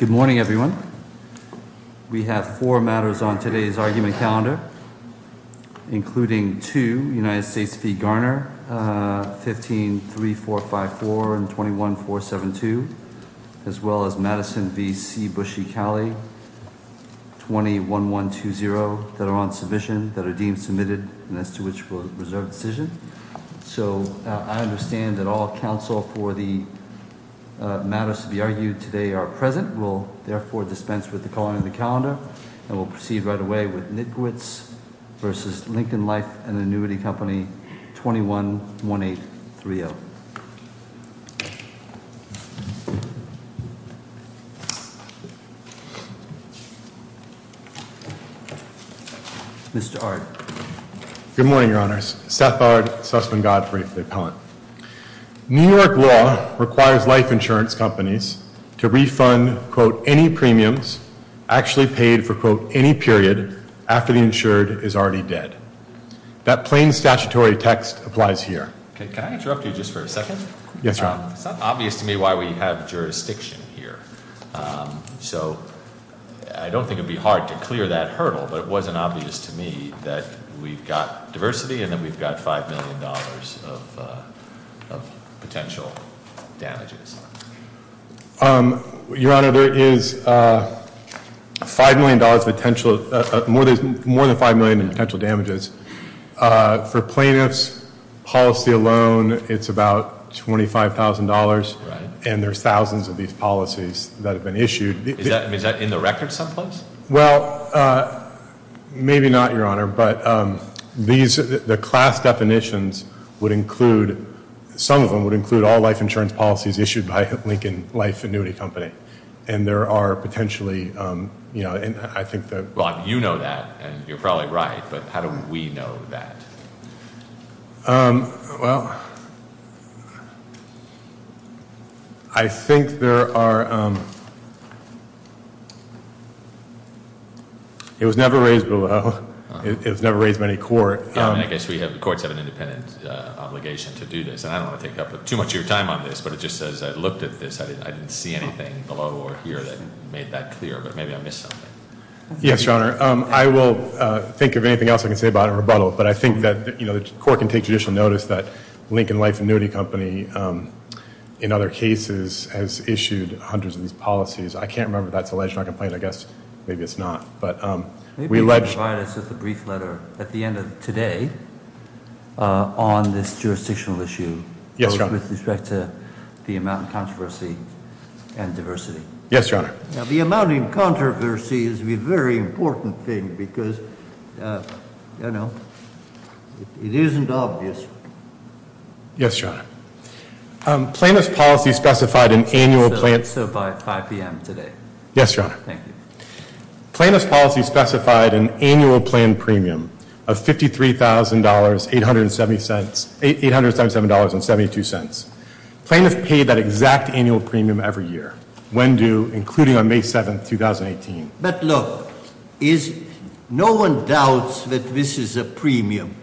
Good morning, everyone. We have four matters on today's argument calendar, including two United States v. Garner, 15-3454 and 21-472, as well as Madison v. C. Bush e. Cali, 20-1120, that are on submission, that are deemed submitted, and as to which will reserve decision. So I understand that all counsel for the matters to be argued today are present. We'll, therefore, dispense with the calling of the calendar, and we'll proceed right away with Nitkewicz v. Lincoln Life & Annuity Company, 21-1830. Mr. Ard. Good morning, Your Honors. Seth Ard, Sussman Godfrey for the appellant. New York law requires life insurance companies to refund, quote, any premiums actually paid for, quote, any period after the insured is already dead. That plain statutory text applies here. Can I interrupt you just for a second? Yes, Your Honor. It's not obvious to me why we have jurisdiction here. So I don't think it would be hard to clear that hurdle, but it wasn't obvious to me that we've got diversity and that we've got $5 million of potential damages. Your Honor, there is more than $5 million in potential damages. For plaintiff's policy alone, it's about $25,000, and there's thousands of these policies that have been issued. Is that in the record someplace? Well, maybe not, Your Honor, but the class definitions would include, some of them would include all life insurance policies issued by Lincoln Life Annuity Company, and there are potentially, you know, I think that- Well, you know that, and you're probably right, but how do we know that? Well, I think there are- It was never raised below. It was never raised by any court. I guess the courts have an independent obligation to do this, and I don't want to take up too much of your time on this, but it just says I looked at this. I didn't see anything below or here that made that clear, but maybe I missed something. Yes, Your Honor. I will think of anything else I can say about it in rebuttal, but I think that the court can take judicial notice that Lincoln Life Annuity Company, in other cases, has issued hundreds of these policies. I can't remember if that's alleged or not complained. I guess maybe it's not, but we allege- Can you provide us with a brief letter at the end of today on this jurisdictional issue? Yes, Your Honor. With respect to the amount of controversy and diversity? Yes, Your Honor. Now, the amount of controversy is a very important thing because, you know, it isn't obvious. Yes, Your Honor. Plaintiff's policy specified an annual- So by 5 p.m. today. Yes, Your Honor. Thank you. Plaintiff's policy specified an annual plan premium of $53,877.72. Plaintiff paid that exact annual premium every year, when due, including on May 7, 2018. But look, no one doubts that this is a premium,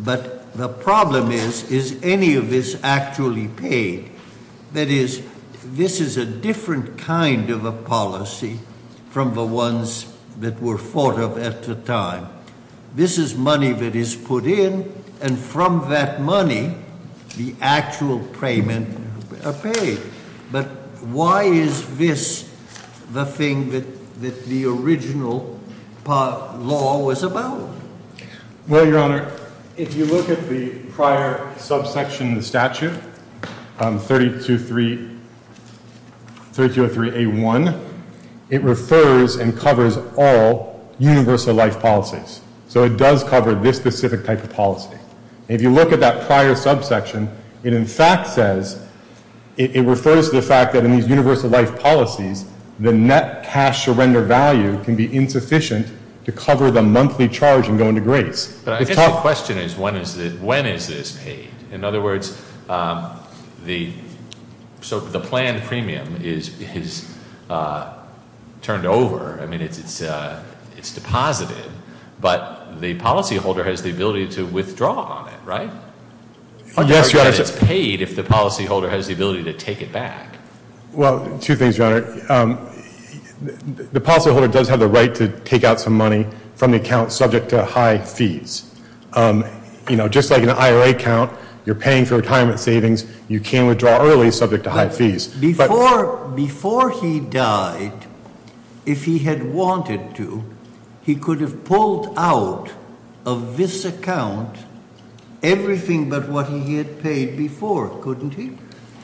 but the problem is, is any of this actually paid? That is, this is a different kind of a policy from the ones that were thought of at the time. This is money that is put in, and from that money, the actual payment are paid. But why is this the thing that the original law was about? Well, Your Honor, if you look at the prior subsection of the statute, 3203A1, it refers and covers all universal life policies. So it does cover this specific type of policy. If you look at that prior subsection, it in fact says, it refers to the fact that in these universal life policies, the net cash surrender value can be insufficient to cover the monthly charge in going to grace. But I guess the question is, when is this paid? In other words, the plan premium is turned over. I mean, it's deposited, but the policyholder has the ability to withdraw on it, right? Yes, Your Honor. It's paid if the policyholder has the ability to take it back. Well, two things, Your Honor. The policyholder does have the right to take out some money from the account subject to high fees. You know, just like an IRA account, you're paying for retirement savings, you can withdraw early subject to high fees. Before he died, if he had wanted to, he could have pulled out of this account everything but what he had paid before, couldn't he?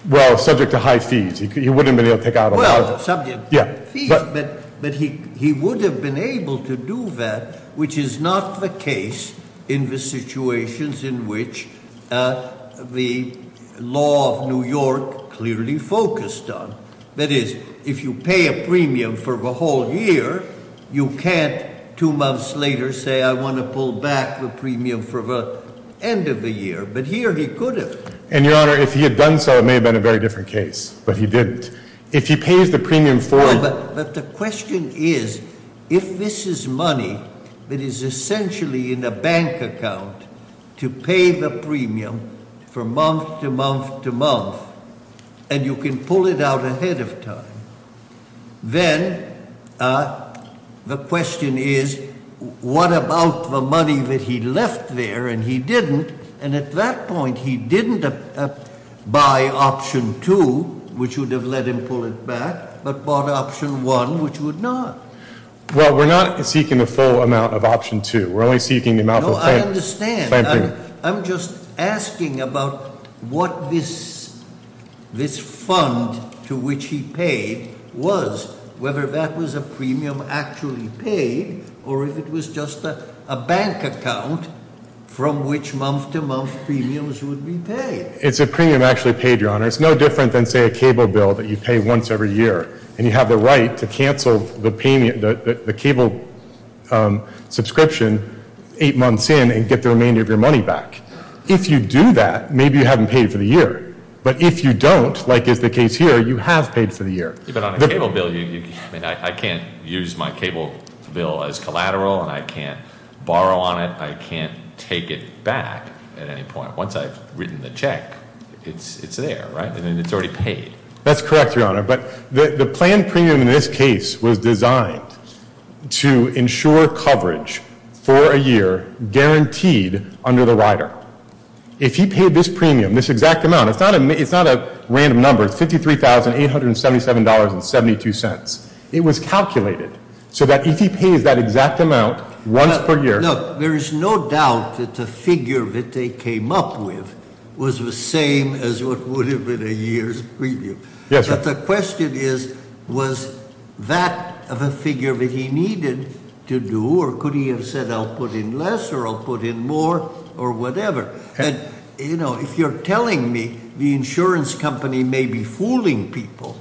Well, subject to high fees. He wouldn't have been able to take out all that. Well, subject to fees, but he would have been able to do that, which is not the case in the situations in which the law of New York clearly focused on. That is, if you pay a premium for the whole year, you can't two months later say, I want to pull back the premium for the end of the year. But here he could have. And, Your Honor, if he had done so, it may have been a very different case. But he didn't. If he pays the premium for it. But the question is, if this is money that is essentially in a bank account to pay the premium for month to month to month, and you can pull it out ahead of time, then the question is, what about the money that he left there and he didn't? And at that point, he didn't buy option two, which would have let him pull it back, but bought option one, which would not. Well, we're not seeking the full amount of option two. We're only seeking the amount of clamping. No, I understand. I'm just asking about what this fund to which he paid was, whether that was a premium actually paid, or if it was just a bank account from which month to month premiums would be paid. It's a premium actually paid, Your Honor. It's no different than, say, a cable bill that you pay once every year, and you have the right to cancel the cable subscription eight months in and get the remainder of your money back. If you do that, maybe you haven't paid for the year. But if you don't, like is the case here, you have paid for the year. But on a cable bill, I can't use my cable bill as collateral, and I can't borrow on it. I can't take it back at any point. Once I've written the check, it's there, right? And it's already paid. That's correct, Your Honor. But the planned premium in this case was designed to ensure coverage for a year guaranteed under the rider. If he paid this premium, this exact amount, it's not a random number. It's $53,877.72. It was calculated so that if he pays that exact amount once per year. Look, there is no doubt that the figure that they came up with was the same as what would have been a year's premium. But the question is, was that the figure that he needed to do, or could he have said, I'll put in less, or I'll put in more, or whatever? If you're telling me the insurance company may be fooling people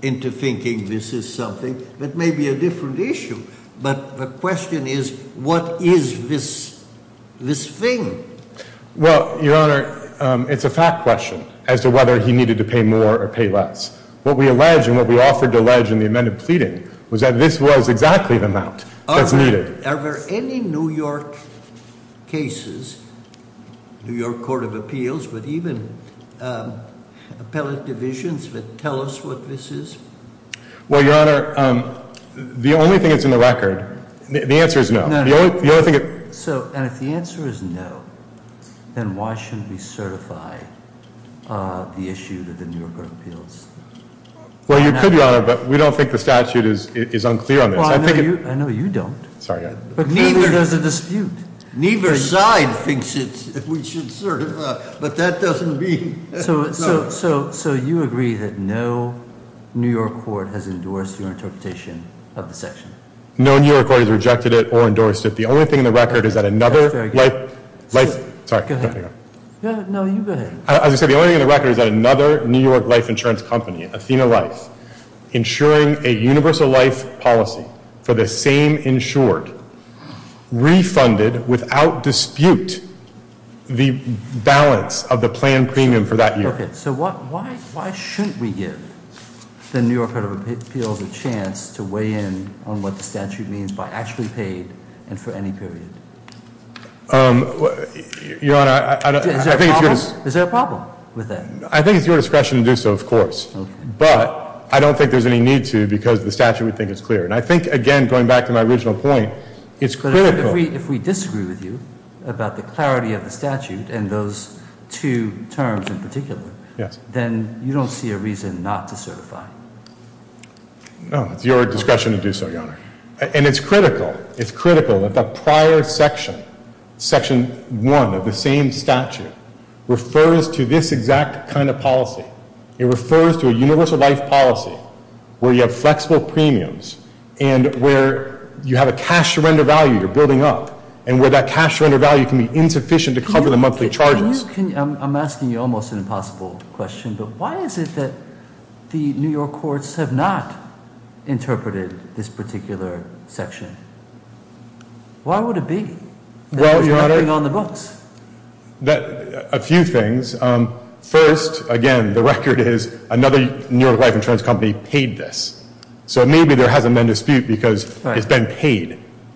into thinking this is something, that may be a different issue. But the question is, what is this thing? Well, Your Honor, it's a fact question as to whether he needed to pay more or pay less. What we allege and what we offered to allege in the amended pleading was that this was exactly the amount that's needed. Are there any New York cases, New York Court of Appeals, but even appellate divisions that tell us what this is? Well, Your Honor, the only thing that's in the record, the answer is no. The only thing- So, and if the answer is no, then why shouldn't we certify the issue of the New York Court of Appeals? Well, you could, Your Honor, but we don't think the statute is unclear on this. Well, I know you don't. Sorry. But neither does the dispute. Neither side thinks that we should certify, but that doesn't mean- So you agree that no New York court has endorsed your interpretation of the section? No New York court has rejected it or endorsed it. The only thing in the record is that another- That's very good. Sorry, go ahead. No, you go ahead. As I said, the only thing in the record is that another New York life insurance company, insuring a universal life policy for the same insured, refunded without dispute the balance of the planned premium for that year. Okay, so why shouldn't we give the New York Court of Appeals a chance to weigh in on what the statute means by actually paid and for any period? Your Honor, I don't- Is there a problem with that? I think it's your discretion to do so, of course. Okay. But I don't think there's any need to because the statute, we think, is clear. And I think, again, going back to my original point, it's critical- But if we disagree with you about the clarity of the statute and those two terms in particular- Yes. Then you don't see a reason not to certify. No, it's your discretion to do so, Your Honor. And it's critical, it's critical that the prior section, section 1 of the same statute, refers to this exact kind of policy. It refers to a universal life policy where you have flexible premiums and where you have a cash-to-render value you're building up, and where that cash-to-render value can be insufficient to cover the monthly charges. I'm asking you almost an impossible question, but why is it that the New York courts have not interpreted this particular section? Why would it be? Well, Your Honor- It's not even on the books. A few things. First, again, the record is another New York life insurance company paid this. So maybe there hasn't been a dispute because it's been paid,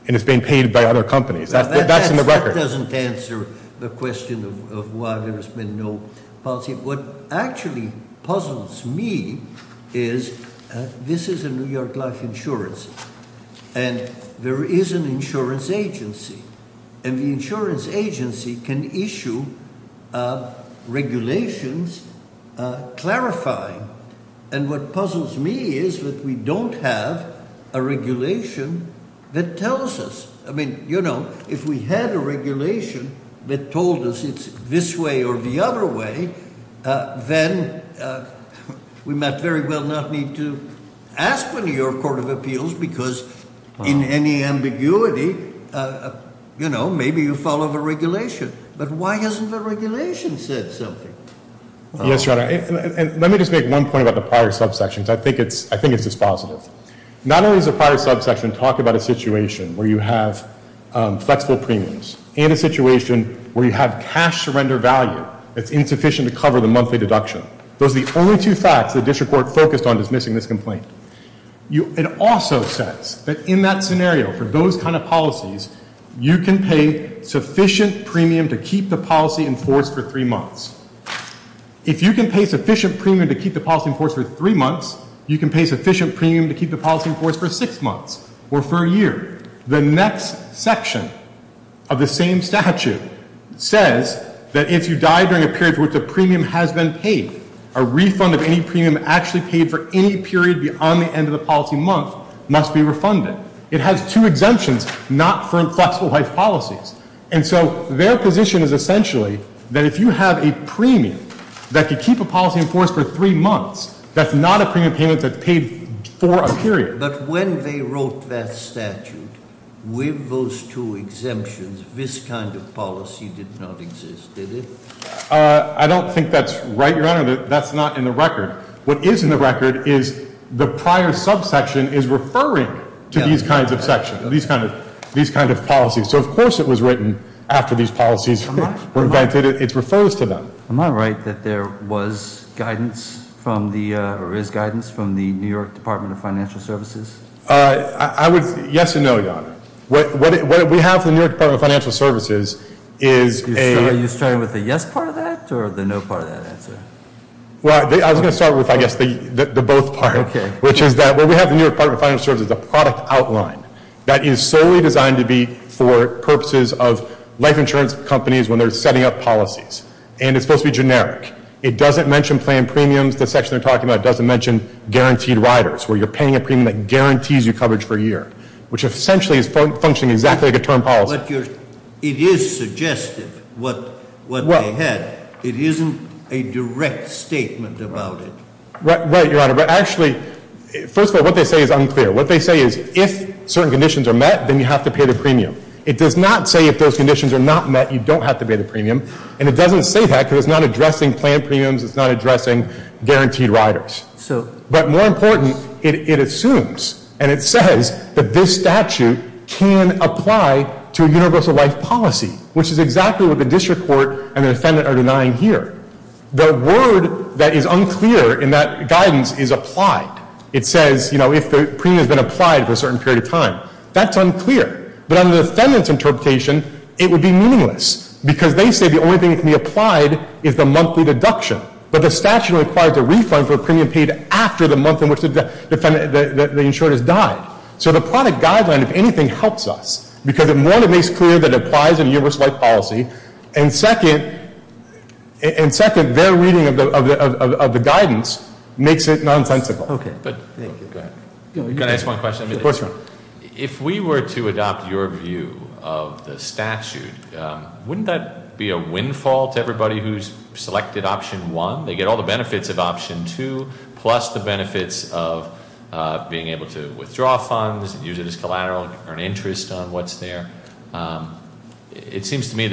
and it's been paid by other companies. That's in the record. That doesn't answer the question of why there's been no policy. What actually puzzles me is this is a New York life insurance, and there is an insurance agency. And the insurance agency can issue regulations clarifying. And what puzzles me is that we don't have a regulation that tells us. I mean, you know, if we had a regulation that told us it's this way or the other way, then we might very well not need to ask the New York Court of Appeals, because in any ambiguity, you know, maybe you follow the regulation. But why hasn't the regulation said something? Yes, Your Honor. And let me just make one point about the prior subsections. I think it's dispositive. Not only does the prior subsection talk about a situation where you have flexible premiums and a situation where you have cash surrender value that's insufficient to cover the monthly deduction. Those are the only two facts the district court focused on dismissing this complaint. It also says that in that scenario, for those kind of policies, you can pay sufficient premium to keep the policy enforced for three months. If you can pay sufficient premium to keep the policy enforced for three months, you can pay sufficient premium to keep the policy enforced for six months or for a year. The next section of the same statute says that if you die during a period for which a premium has been paid, a refund of any premium actually paid for any period beyond the end of the policy month must be refunded. It has two exemptions, not for flexible life policies. And so their position is essentially that if you have a premium that can keep a policy enforced for three months, that's not a premium payment that's paid for a period. But when they wrote that statute, with those two exemptions, this kind of policy did not exist, did it? I don't think that's right, Your Honor. That's not in the record. What is in the record is the prior subsection is referring to these kinds of sections, these kinds of policies. So of course it was written after these policies were invented. It refers to them. Am I right that there was guidance from the, or is guidance from the New York Department of Financial Services? I would, yes and no, Your Honor. What we have from the New York Department of Financial Services is a- Are you starting with the yes part of that or the no part of that answer? Well, I was going to start with, I guess, the both part. Okay. Which is that where we have the New York Department of Financial Services, a product outline that is solely designed to be for purposes of life insurance companies when they're setting up policies. And it's supposed to be generic. It doesn't mention planned premiums, the section they're talking about. It doesn't mention guaranteed riders, where you're paying a premium that guarantees you coverage for a year. Which essentially is functioning exactly like a term policy. But it is suggestive, what they had. It isn't a direct statement about it. Right, Your Honor. But actually, first of all, what they say is unclear. What they say is if certain conditions are met, then you have to pay the premium. It does not say if those conditions are not met, you don't have to pay the premium. And it doesn't say that because it's not addressing planned premiums. It's not addressing guaranteed riders. So- But more important, it assumes and it says that this statute can apply to a universal life policy. Which is exactly what the district court and the defendant are denying here. The word that is unclear in that guidance is applied. It says, you know, if the premium has been applied for a certain period of time. That's unclear. But under the defendant's interpretation, it would be meaningless. Because they say the only thing that can be applied is the monthly deduction. But the statute requires a refund for a premium paid after the month in which the insured has died. So the product guideline, if anything, helps us. Because one, it makes clear that it applies in a universal life policy. And second, their reading of the guidance makes it nonsensical. Okay. Go ahead. Can I ask one question? Of course, Ron. If we were to adopt your view of the statute, wouldn't that be a windfall to everybody who's selected option one? They get all the benefits of option two. Plus the benefits of being able to withdraw funds, use it as collateral, earn interest on what's there. It seems to me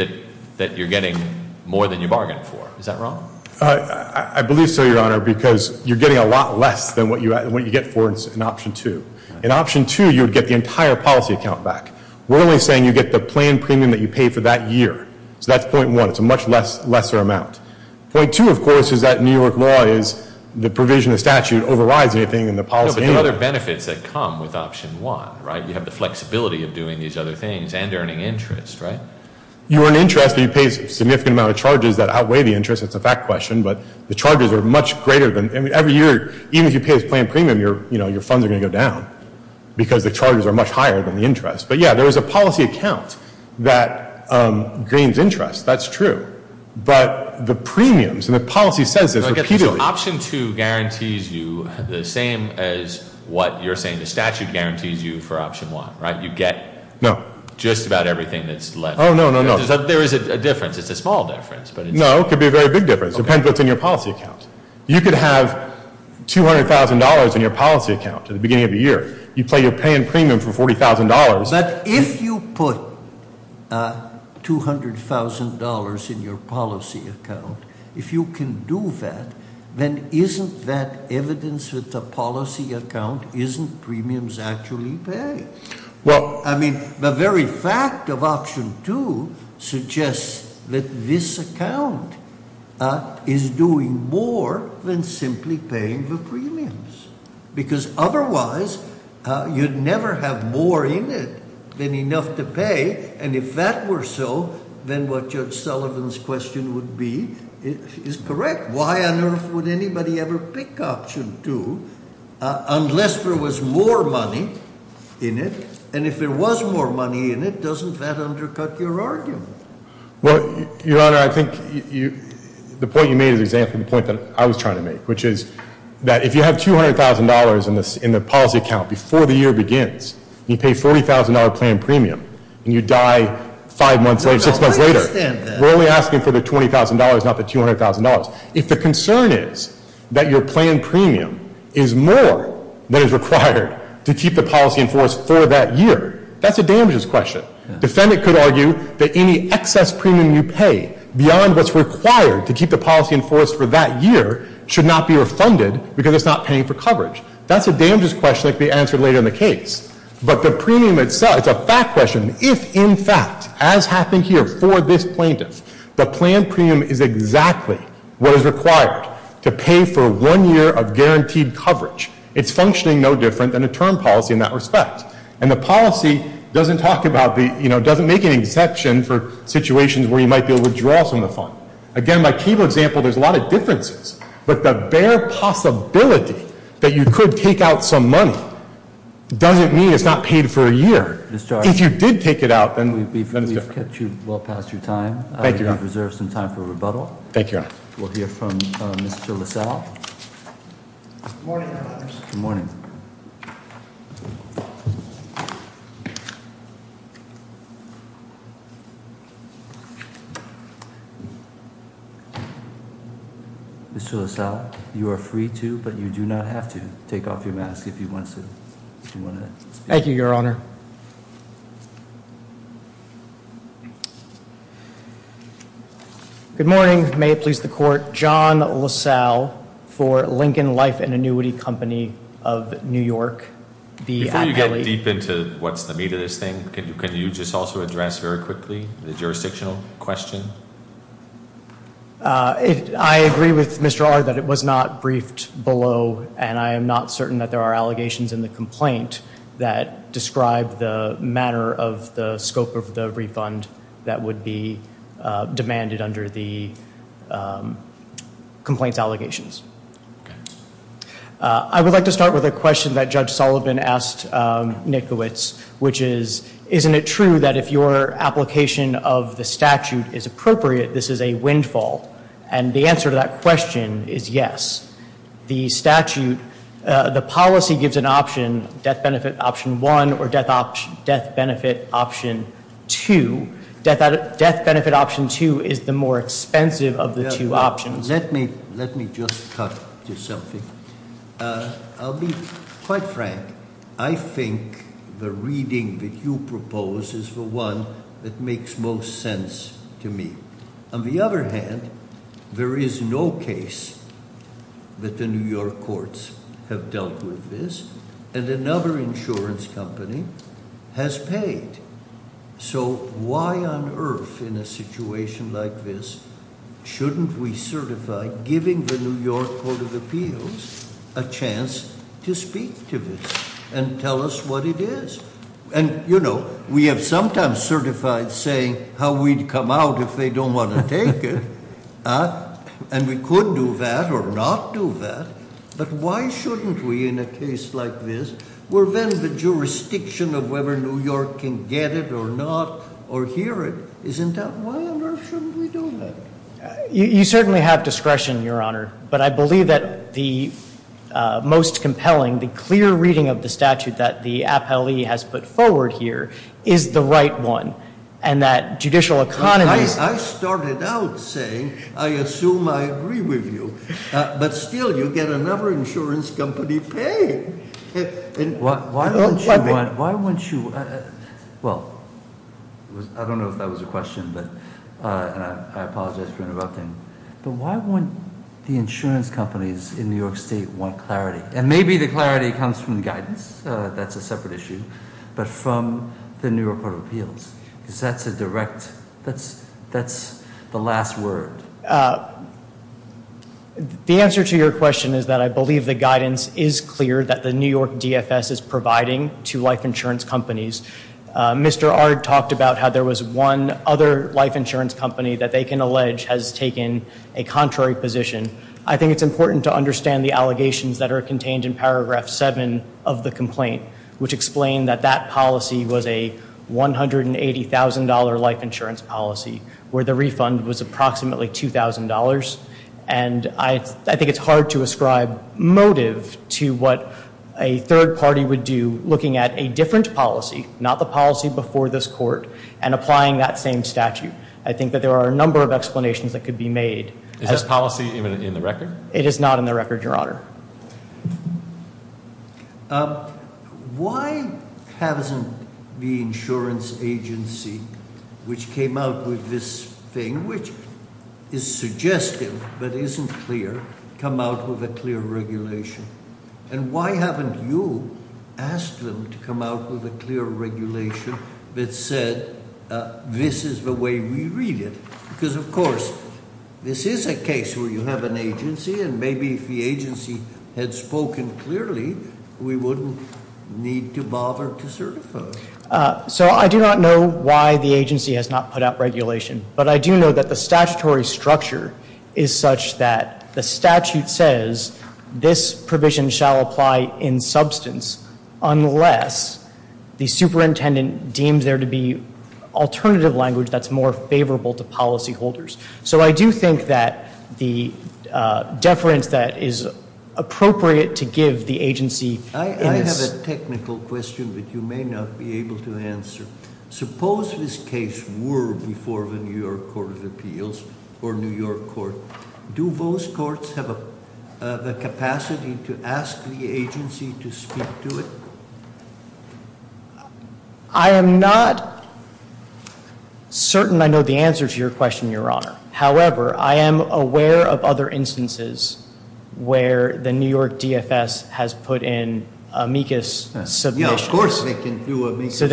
that you're getting more than you bargained for. Is that wrong? I believe so, Your Honor, because you're getting a lot less than what you get for an option two. In option two, you would get the entire policy account back. We're only saying you get the planned premium that you paid for that year. So that's point one. It's a much lesser amount. Point two, of course, is that New York law is the provision of statute overrides anything in the policy. No, but there are other benefits that come with option one, right? You have the flexibility of doing these other things and earning interest, right? You earn interest, but you pay a significant amount of charges that outweigh the interest. It's a fact question, but the charges are much greater. Every year, even if you pay this planned premium, your funds are going to go down because the charges are much higher than the interest. But, yeah, there is a policy account that gains interest. That's true. But the premiums and the policy says this repeatedly. So option two guarantees you the same as what you're saying the statute guarantees you for option one, right? You get just about everything that's left. Oh, no, no, no. There is a difference. It's a small difference. No, it could be a very big difference. It depends what's in your policy account. You could have $200,000 in your policy account at the beginning of the year. You pay your planned premium for $40,000. But if you put $200,000 in your policy account, if you can do that, then isn't that evidence that the policy account isn't premiums actually paid? Well- I mean the very fact of option two suggests that this account is doing more than simply paying the premiums. Because otherwise, you'd never have more in it than enough to pay. And if that were so, then what Judge Sullivan's question would be is correct. Why on earth would anybody ever pick option two unless there was more money in it? And if there was more money in it, doesn't that undercut your argument? Well, Your Honor, I think the point you made is exactly the point that I was trying to make, which is that if you have $200,000 in the policy account before the year begins, and you pay $40,000 planned premium, and you die five months later, six months later- I don't understand that. We're only asking for the $20,000, not the $200,000. If the concern is that your planned premium is more than is required to keep the policy in force for that year, that's a damages question. Defendant could argue that any excess premium you pay beyond what's required to keep the policy in force for that year should not be refunded because it's not paying for coverage. That's a damages question that could be answered later in the case. But the premium itself is a fact question. If, in fact, as happened here for this plaintiff, the planned premium is exactly what is required to pay for one year of guaranteed coverage, it's functioning no different than a term policy in that respect. And the policy doesn't make an exception for situations where you might be able to withdraw some of the fund. Again, my key example, there's a lot of differences. But the bare possibility that you could take out some money doesn't mean it's not paid for a year. If you did take it out, then it's different. We've kept you well past your time. Thank you, Your Honor. I reserve some time for rebuttal. Thank you, Your Honor. We'll hear from Mr. LaSalle. Good morning, Your Honors. Good morning. Mr. LaSalle, you are free to, but you do not have to, take off your mask if you want to. Thank you, Your Honor. Good morning. May it please the Court. John LaSalle for Lincoln Life and Annuity Company of New York. Before you get deep into what's the meat of this thing, can you just also address very quickly the jurisdictional question? I agree with Mr. Ard that it was not briefed below, and I am not certain that there are allegations in the complaint that describe the manner of the scope of the refund that would be demanded under the complaint's allegations. I would like to start with a question that Judge Sullivan asked Nickowitz, which is, isn't it true that if your application of the statute is appropriate, this is a windfall? And the answer to that question is yes. The statute, the policy gives an option, death benefit option one or death benefit option two. Death benefit option two is the more expensive of the two options. Let me just cut to something. I'll be quite frank. I think the reading that you propose is the one that makes most sense to me. On the other hand, there is no case that the New York courts have dealt with this, and another insurance company has paid. So why on earth in a situation like this shouldn't we certify giving the New York Court of Appeals a chance to speak to this and tell us what it is? And we have sometimes certified saying how we'd come out if they don't want to take it. And we could do that or not do that. But why shouldn't we in a case like this? We're then the jurisdiction of whether New York can get it or not or hear it, isn't that? Why on earth shouldn't we do that? You certainly have discretion, Your Honor, but I believe that the most compelling, the clear reading of the statute that the appellee has put forward here is the right one and that judicial economies I started out saying, I assume I agree with you. But still, you get another insurance company paying. Why won't you, well, I don't know if that was a question, and I apologize for interrupting. But why won't the insurance companies in New York State want clarity? And maybe the clarity comes from the guidance, that's a separate issue. But from the New York Court of Appeals, because that's a direct, that's the last word. The answer to your question is that I believe the guidance is clear that the New York DFS is providing to life insurance companies. Mr. Ard talked about how there was one other life insurance company that they can allege has taken a contrary position. I think it's important to understand the allegations that are contained in Paragraph 7 of the complaint, which explained that that policy was a $180,000 life insurance policy, where the refund was approximately $2,000. And I think it's hard to ascribe motive to what a third party would do looking at a different policy, not the policy before this court, and applying that same statute. I think that there are a number of explanations that could be made. Is this policy in the record? It is not in the record, your honor. Why hasn't the insurance agency, which came out with this thing, which is suggestive but isn't clear, come out with a clear regulation? And why haven't you asked them to come out with a clear regulation that said this is the way we read it? Because of course, this is a case where you have an agency, and maybe if the agency had spoken clearly, we wouldn't need to bother to certify. So I do not know why the agency has not put out regulation. But I do know that the statutory structure is such that the statute says this provision shall apply in substance unless the superintendent deems there to be alternative language that's more favorable to policy holders. So I do think that the deference that is appropriate to give the agency- I have a technical question that you may not be able to answer. Suppose this case were before the New York Court of Appeals or New York Court. Do those courts have the capacity to ask the agency to speak to it? I am not certain I know the answer to your question, Your Honor. However, I am aware of other instances where the New York DFS has put in amicus submissions. Yeah, of course they can do amicus submissions. So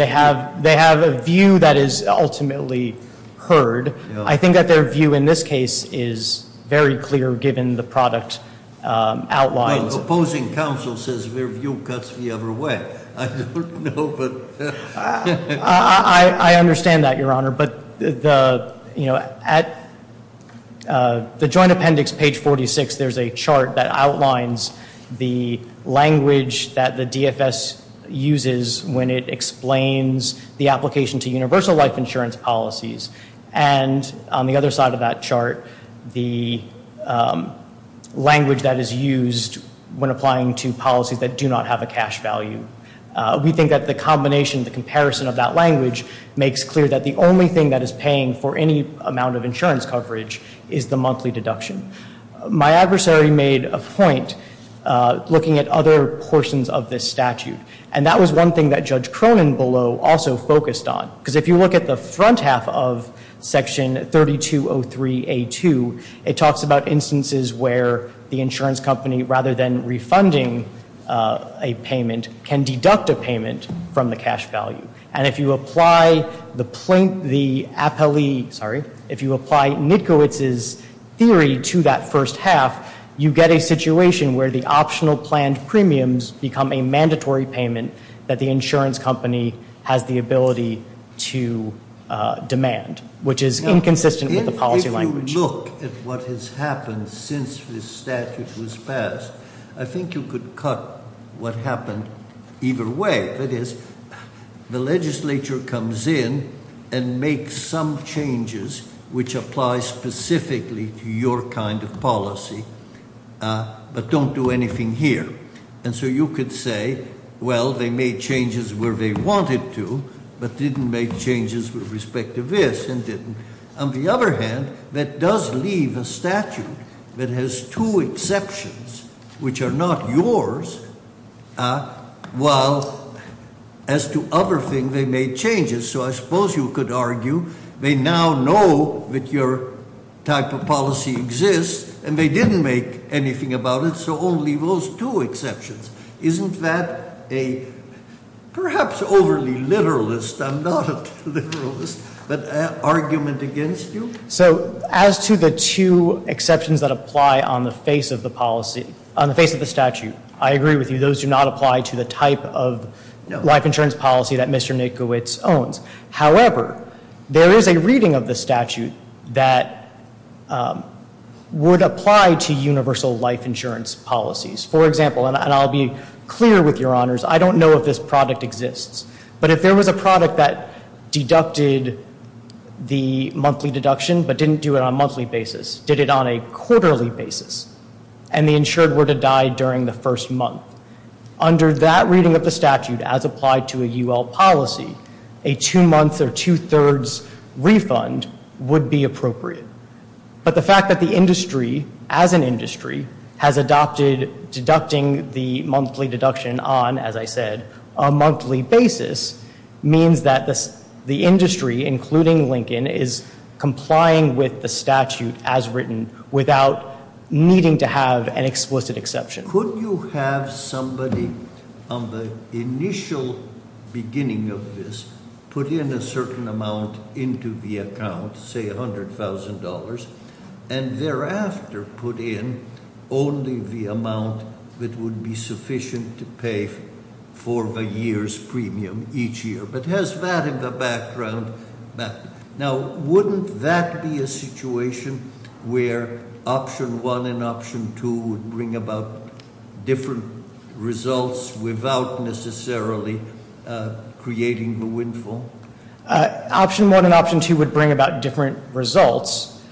they have a view that is ultimately heard. I think that their view in this case is very clear given the product outlined. Well, the opposing counsel says their view cuts the other way. I don't know, but... I understand that, Your Honor. But, you know, at the joint appendix, page 46, there's a chart that outlines the language that the DFS uses when it explains the application to universal life insurance policies. And on the other side of that chart, the language that is used when applying to policies that do not have a cash value. We think that the combination, the comparison of that language makes clear that the only thing that is paying for any amount of insurance coverage is the monthly deduction. My adversary made a point looking at other portions of this statute. And that was one thing that Judge Cronin below also focused on. Because if you look at the front half of Section 3203A2, it talks about instances where the insurance company, rather than refunding a payment, can deduct a payment from the cash value. And if you apply the appellee... Sorry. If you apply Nitkowitz's theory to that first half, you get a situation where the optional planned premiums become a mandatory payment that the insurance company has the ability to demand, which is inconsistent with the policy language. If you look at what has happened since this statute was passed, I think you could cut what happened either way. That is, the legislature comes in and makes some changes which apply specifically to your kind of policy but don't do anything here. And so you could say, well, they made changes where they wanted to but didn't make changes with respect to this and didn't. On the other hand, that does leave a statute that has two exceptions, which are not yours, while as to other things they made changes. So I suppose you could argue they now know that your type of policy exists and they didn't make anything about it, so only those two exceptions. Isn't that a perhaps overly literalist, I'm not a literalist, but argument against you? So as to the two exceptions that apply on the face of the policy, on the face of the statute, I agree with you, those do not apply to the type of life insurance policy that Mr. Nitkowitz owns. However, there is a reading of the statute that would apply to universal life insurance policies. For example, and I'll be clear with your honors, I don't know if this product exists, but if there was a product that deducted the monthly deduction but didn't do it on a monthly basis, did it on a quarterly basis, and the insured were to die during the first month, under that reading of the statute as applied to a UL policy, a two-month or two-thirds refund would be appropriate. But the fact that the industry, as an industry, has adopted deducting the monthly deduction on, as I said, a monthly basis, means that the industry, including Lincoln, is complying with the statute as written without needing to have an explicit exception. And could you have somebody on the initial beginning of this put in a certain amount into the account, say $100,000, and thereafter put in only the amount that would be sufficient to pay for the year's premium each year? But has that in the background? Now, wouldn't that be a situation where option one and option two would bring about different results without necessarily creating a windfall? Option one and option two would bring about different results,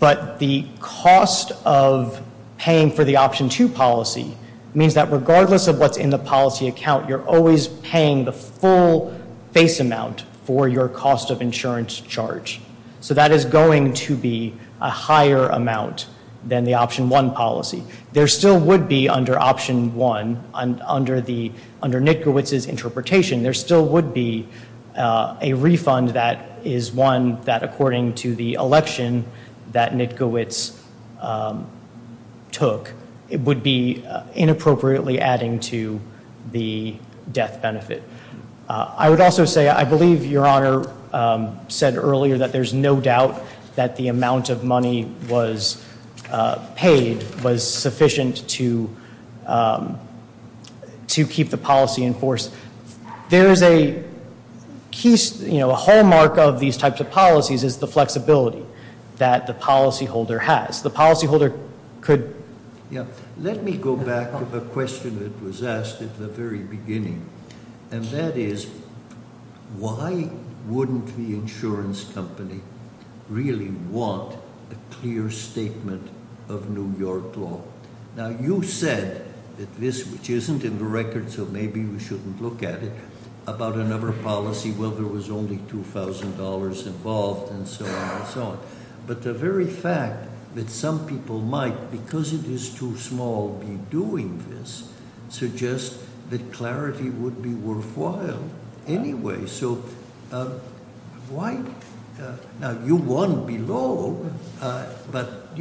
but the cost of paying for the option two policy means that regardless of what's in the policy account, you're always paying the full face amount for your cost of insurance charge. So that is going to be a higher amount than the option one policy. There still would be, under option one, under Nitkowitz's interpretation, there still would be a refund that is one that, according to the election that Nitkowitz took, would be inappropriately adding to the death benefit. I would also say, I believe Your Honor said earlier that there's no doubt that the amount of money was paid, was sufficient to keep the policy in force. There is a hallmark of these types of policies is the flexibility that the policyholder has. The policyholder could- Yeah, let me go back to the question that was asked at the very beginning. And that is, why wouldn't the insurance company really want a clear statement of New York law? Now, you said that this, which isn't in the record, so maybe we shouldn't look at it, about another policy where there was only $2,000 involved and so on and so on. But the very fact that some people might, because it is too small, be doing this, suggests that clarity would be worthwhile anyway. So why- Now, you won't be low, but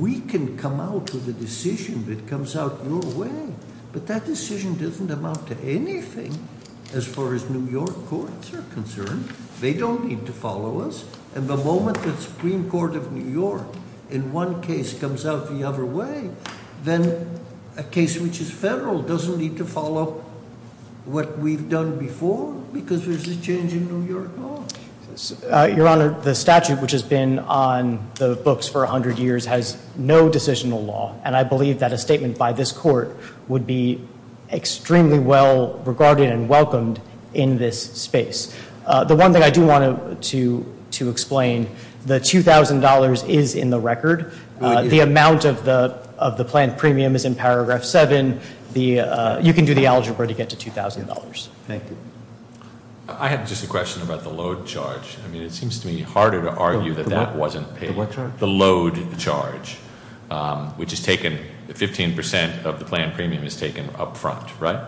we can come out with a decision that comes out your way. But that decision doesn't amount to anything as far as New York courts are concerned. They don't need to follow us. And the moment the Supreme Court of New York in one case comes out the other way, then a case which is federal doesn't need to follow what we've done before because there's a change in New York law. Your Honor, the statute which has been on the books for 100 years has no decisional law. And I believe that a statement by this court would be extremely well regarded and welcomed in this space. The one thing I do want to explain, the $2,000 is in the record. The amount of the planned premium is in Paragraph 7. You can do the algebra to get to $2,000. Thank you. I have just a question about the load charge. I mean, it seems to me harder to argue that that wasn't paid. The what charge? The load charge, which is taken, 15% of the planned premium is taken up front, right?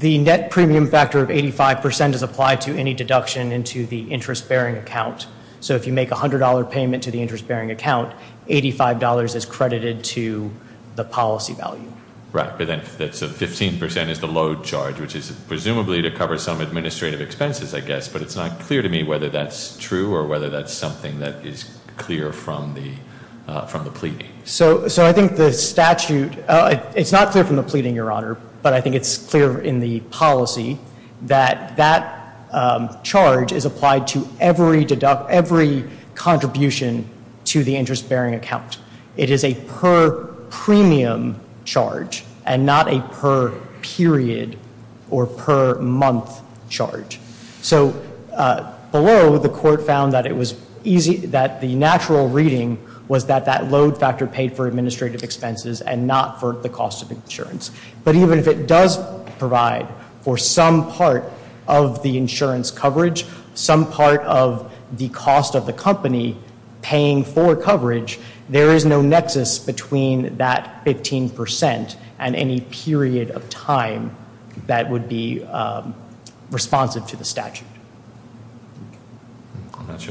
The net premium factor of 85% is applied to any deduction into the interest-bearing account. So if you make a $100 payment to the interest-bearing account, $85 is credited to the policy value. Right. So 15% is the load charge, which is presumably to cover some administrative expenses, I guess. But it's not clear to me whether that's true or whether that's something that is clear from the pleading. So I think the statute, it's not clear from the pleading, Your Honor, but I think it's clear in the policy that that charge is applied to every contribution to the interest-bearing account. It is a per-premium charge and not a per-period or per-month charge. So below, the court found that the natural reading was that that load factor paid for administrative expenses and not for the cost of insurance. But even if it does provide for some part of the insurance coverage, some part of the cost of the company paying for coverage, there is no nexus between that 15% and any period of time that would be responsive to the statute.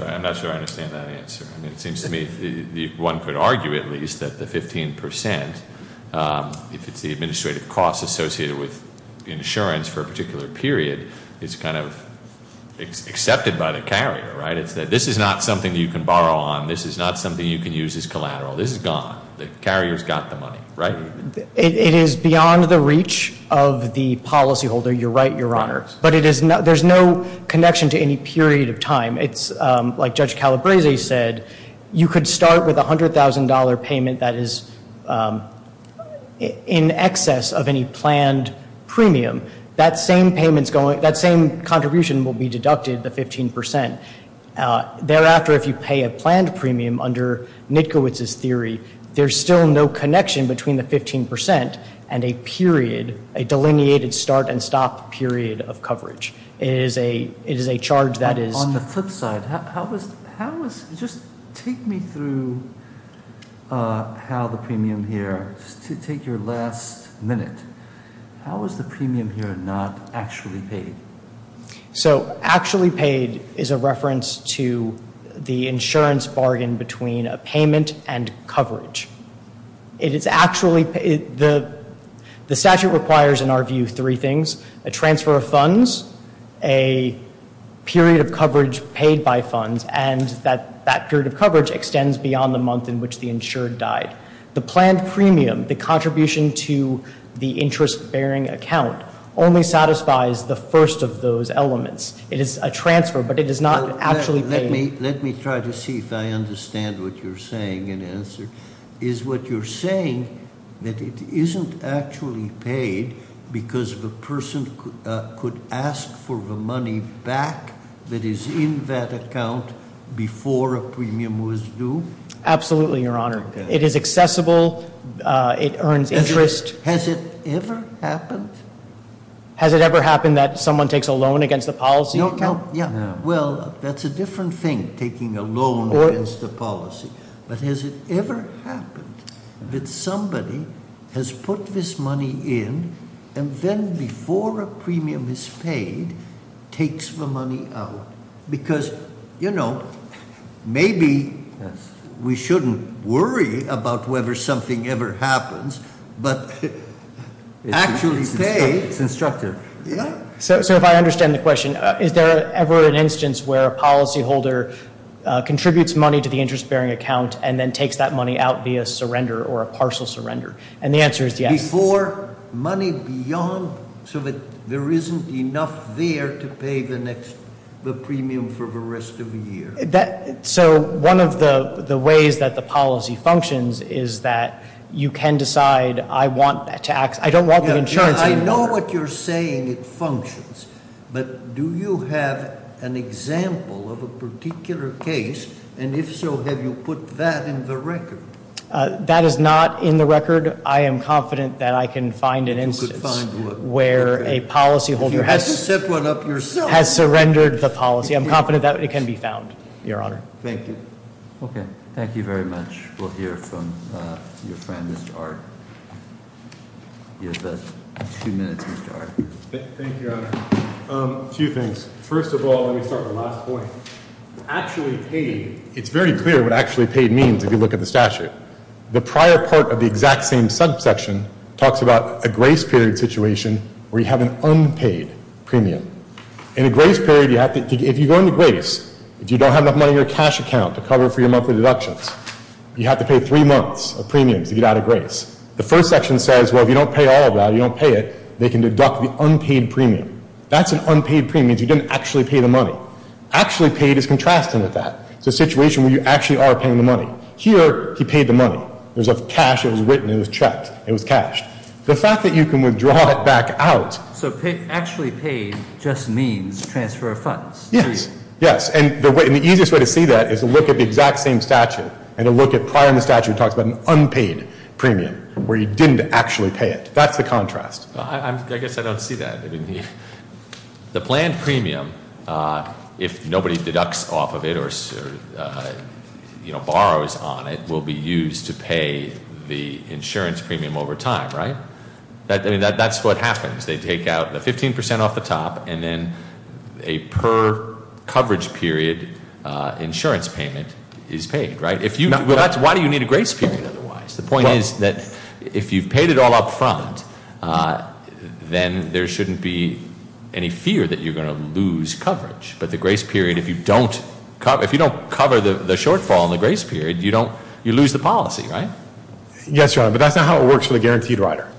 I'm not sure I understand that answer. It seems to me one could argue at least that the 15%, if it's the administrative cost associated with insurance for a particular period, is kind of accepted by the carrier, right? It's that this is not something you can borrow on. This is not something you can use as collateral. This is gone. The carrier's got the money, right? It is beyond the reach of the policyholder. You're right, Your Honor. But there's no connection to any period of time. Like Judge Calabrese said, you could start with a $100,000 payment that is in excess of any planned premium. That same contribution will be deducted, the 15%. Thereafter, if you pay a planned premium under Nitkowitz's theory, there's still no connection between the 15% and a period, a delineated start and stop period of coverage. It is a charge that is- On the flip side, just take me through how the premium here, take your last minute. How is the premium here not actually paid? So, actually paid is a reference to the insurance bargain between a payment and coverage. It is actually- The statute requires, in our view, three things. A transfer of funds, a period of coverage paid by funds, and that that period of coverage extends beyond the month in which the insured died. The planned premium, the contribution to the interest-bearing account, only satisfies the first of those elements. It is a transfer, but it is not actually paid. Let me try to see if I understand what you're saying in answer. Is what you're saying that it isn't actually paid because the person could ask for the money back that is in that account before a premium was due? Absolutely, Your Honor. Okay. It is accessible. It earns interest. Has it ever happened? Has it ever happened that someone takes a loan against the policy account? No, no, yeah. Well, that's a different thing, taking a loan against the policy. But has it ever happened that somebody has put this money in, and then before a premium is paid, takes the money out? Because maybe we shouldn't worry about whether something ever happens, but actually pay- It's instructive. Yeah. So if I understand the question, is there ever an instance where a policyholder contributes money to the interest-bearing account and then takes that money out via surrender or a partial surrender? And the answer is yes. For money beyond, so that there isn't enough there to pay the next, the premium for the rest of the year. So one of the ways that the policy functions is that you can decide, I don't want the insurance- I know what you're saying, it functions. But do you have an example of a particular case? And if so, have you put that in the record? That is not in the record. I am confident that I can find an instance where a policyholder has surrendered the policy. I'm confident that it can be found, Your Honor. Thank you. Okay. Thank you very much. We'll hear from your friend, Mr. Ard. You have two minutes, Mr. Ard. Thank you, Your Honor. Two things. First of all, let me start with the last point. Actually paid, it's very clear what actually paid means if you look at the statute. The prior part of the exact same subsection talks about a grace period situation where you have an unpaid premium. In a grace period, if you go into grace, if you don't have enough money in your cash account to cover for your monthly deductions, you have to pay three months of premiums to get out of grace. The first section says, well, if you don't pay all of that, you don't pay it, they can deduct the unpaid premium. That's an unpaid premium. You didn't actually pay the money. Actually paid is contrasting with that. It's a situation where you actually are paying the money. Here, he paid the money. It was cash, it was written, it was checked. It was cashed. The fact that you can withdraw it back out- So actually paid just means transfer of funds. Yes. Yes. And the easiest way to see that is to look at the exact same statute and to look at prior in the statute, it talks about an unpaid premium where you didn't actually pay it. That's the contrast. I guess I don't see that. The planned premium, if nobody deducts off of it or borrows on it, will be used to pay the insurance premium over time, right? That's what happens. They take out the 15% off the top and then a per coverage period insurance payment is paid, right? Why do you need a grace period otherwise? The point is that if you've paid it all up front, then there shouldn't be any fear that you're going to lose coverage. But the grace period, if you don't cover the shortfall in the grace period, you lose the policy, right? Yes, Your Honor, but that's not how it works for the guaranteed rider.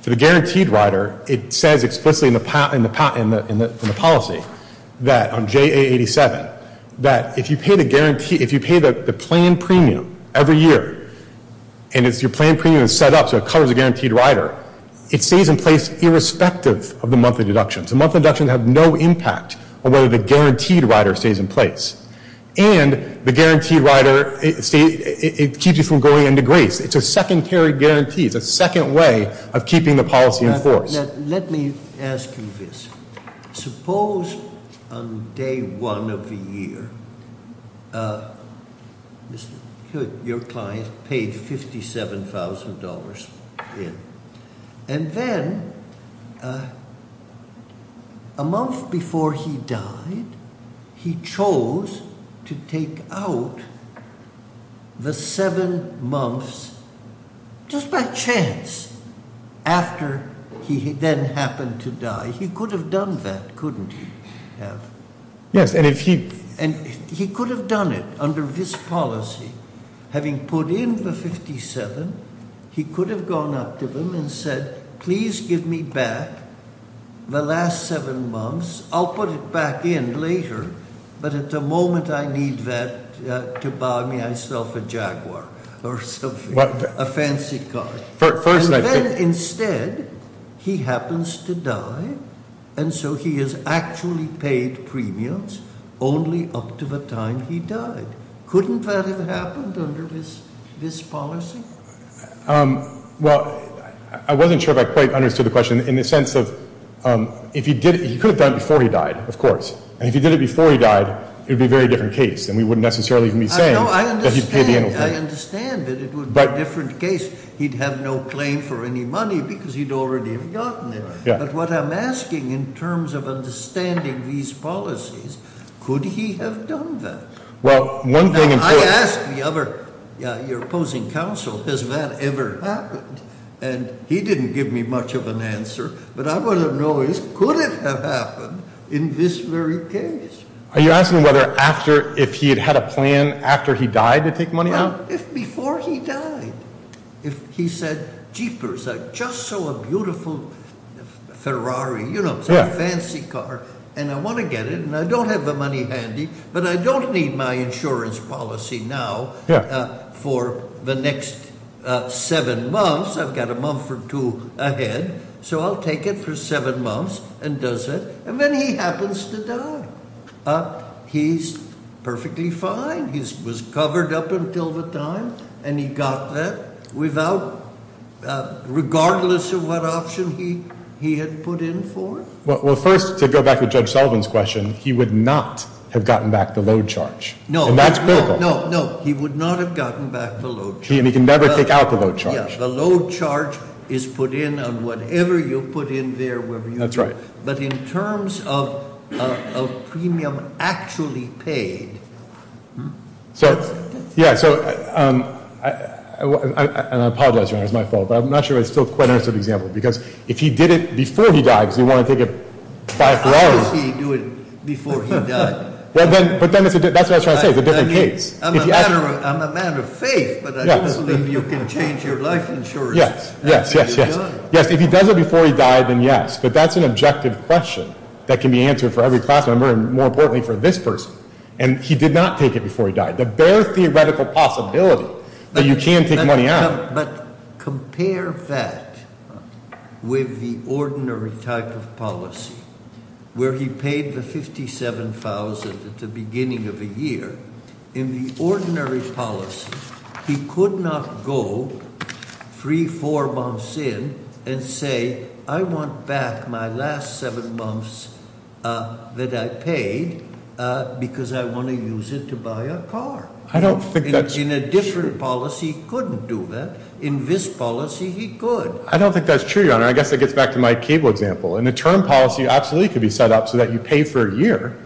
For the guaranteed rider, it says explicitly in the policy that on JA87, that if you pay the planned premium every year and your planned premium is set up so it covers the guaranteed rider, it stays in place irrespective of the monthly deductions. The monthly deductions have no impact on whether the guaranteed rider stays in place. And the guaranteed rider, it keeps you from going into grace. It's a secondary guarantee. It's a second way of keeping the policy in force. Let me ask you this. Suppose on day one of the year, your client paid $57,000 in. And then a month before he died, he chose to take out the seven months just by chance after he then happened to die. He could have done that, couldn't he have? Yes, and if he- Please give me back the last seven months. I'll put it back in later. But at the moment, I need that to buy myself a Jaguar or something, a fancy car. And then instead, he happens to die. And so he is actually paid premiums only up to the time he died. Couldn't that have happened under this policy? Well, I wasn't sure if I quite understood the question in the sense of if he did- He could have done it before he died, of course. And if he did it before he died, it would be a very different case. And we wouldn't necessarily be saying that he paid the annual fee. I understand that it would be a different case. He'd have no claim for any money because he'd already have gotten it. But what I'm asking in terms of understanding these policies, could he have done that? Well, one thing- I asked the other-your opposing counsel, has that ever happened? And he didn't give me much of an answer. But I want to know is could it have happened in this very case? Are you asking whether after-if he had had a plan after he died to take money out? Well, if before he died, if he said, Jeepers, I just saw a beautiful Ferrari, you know, some fancy car, and I want to get it. And I don't have the money handy. But I don't need my insurance policy now for the next seven months. I've got a month or two ahead. So I'll take it for seven months and does it. And then he happens to die. He's perfectly fine. He was covered up until the time. And he got that without-regardless of what option he had put in for it. Well, first, to go back to Judge Sullivan's question, he would not have gotten back the load charge. And that's critical. No, no, no. He would not have gotten back the load charge. And he can never take out the load charge. Yeah. The load charge is put in on whatever you put in there, wherever you put it. That's right. But in terms of premium actually paid- So, yeah, so-and I apologize, Your Honor, it's my fault. But I'm not sure I still quite understood the example. Because if he did it before he died because he didn't want to take it five, four hours- How does he do it before he died? But then that's what I was trying to say. It's a different case. I'm a man of faith, but I don't believe you can change your life insurance after you die. Yes, yes, yes, yes. If he does it before he died, then yes. But that's an objective question that can be answered for every class member and, more importantly, for this person. And he did not take it before he died. The bare theoretical possibility that you can take money out- But compare that with the ordinary type of policy where he paid the $57,000 at the beginning of the year. In the ordinary policy, he could not go three, four months in and say, I want back my last seven months that I paid because I want to use it to buy a car. But in a different policy, he couldn't do that. In this policy, he could. I don't think that's true, Your Honor. I guess that gets back to my cable example. In a term policy, absolutely it could be set up so that you pay for a year,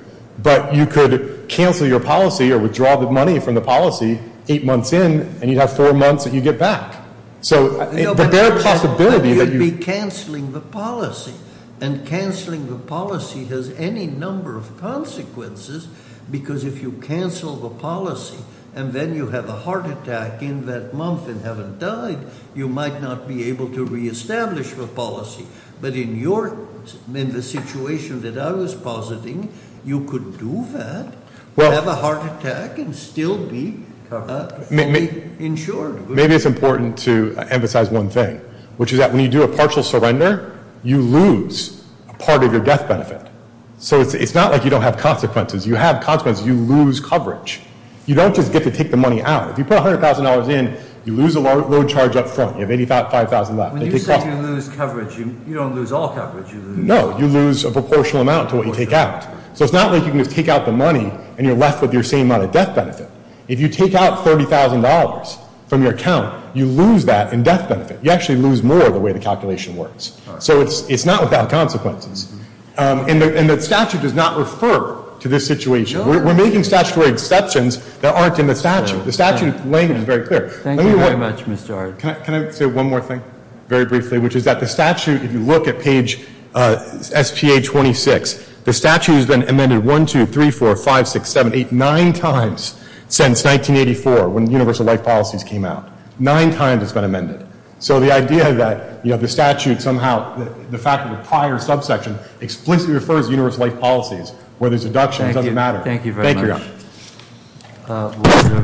but you could cancel your policy or withdraw the money from the policy eight months in, and you'd have four months that you get back. So the bare possibility that you- But you'd be canceling the policy. And canceling the policy has any number of consequences because if you cancel the policy and then you have a heart attack in that month and haven't died, you might not be able to reestablish the policy. But in the situation that I was positing, you could do that, have a heart attack and still be fully insured. Maybe it's important to emphasize one thing, which is that when you do a partial surrender, you lose part of your death benefit. So it's not like you don't have consequences. You have consequences. You lose coverage. You don't just get to take the money out. If you put $100,000 in, you lose a load charge up front. You have $85,000 left. When you say you lose coverage, you don't lose all coverage. No, you lose a proportional amount to what you take out. So it's not like you can just take out the money and you're left with your same amount of death benefit. If you take out $30,000 from your account, you lose that in death benefit. You actually lose more the way the calculation works. So it's not without consequences. And the statute does not refer to this situation. We're making statutory exceptions that aren't in the statute. The statute is laying it in very clear. Thank you very much, Mr. Arnn. Can I say one more thing very briefly, which is that the statute, if you look at page SPA-26, the statute has been amended one, two, three, four, five, six, seven, eight, nine times since 1984, when universal life policies came out. Nine times it's been amended. So the idea that the statute somehow, the fact that the prior subsection explicitly refers to universal life policies, where there's a deduction, doesn't matter. Thank you. Thank you.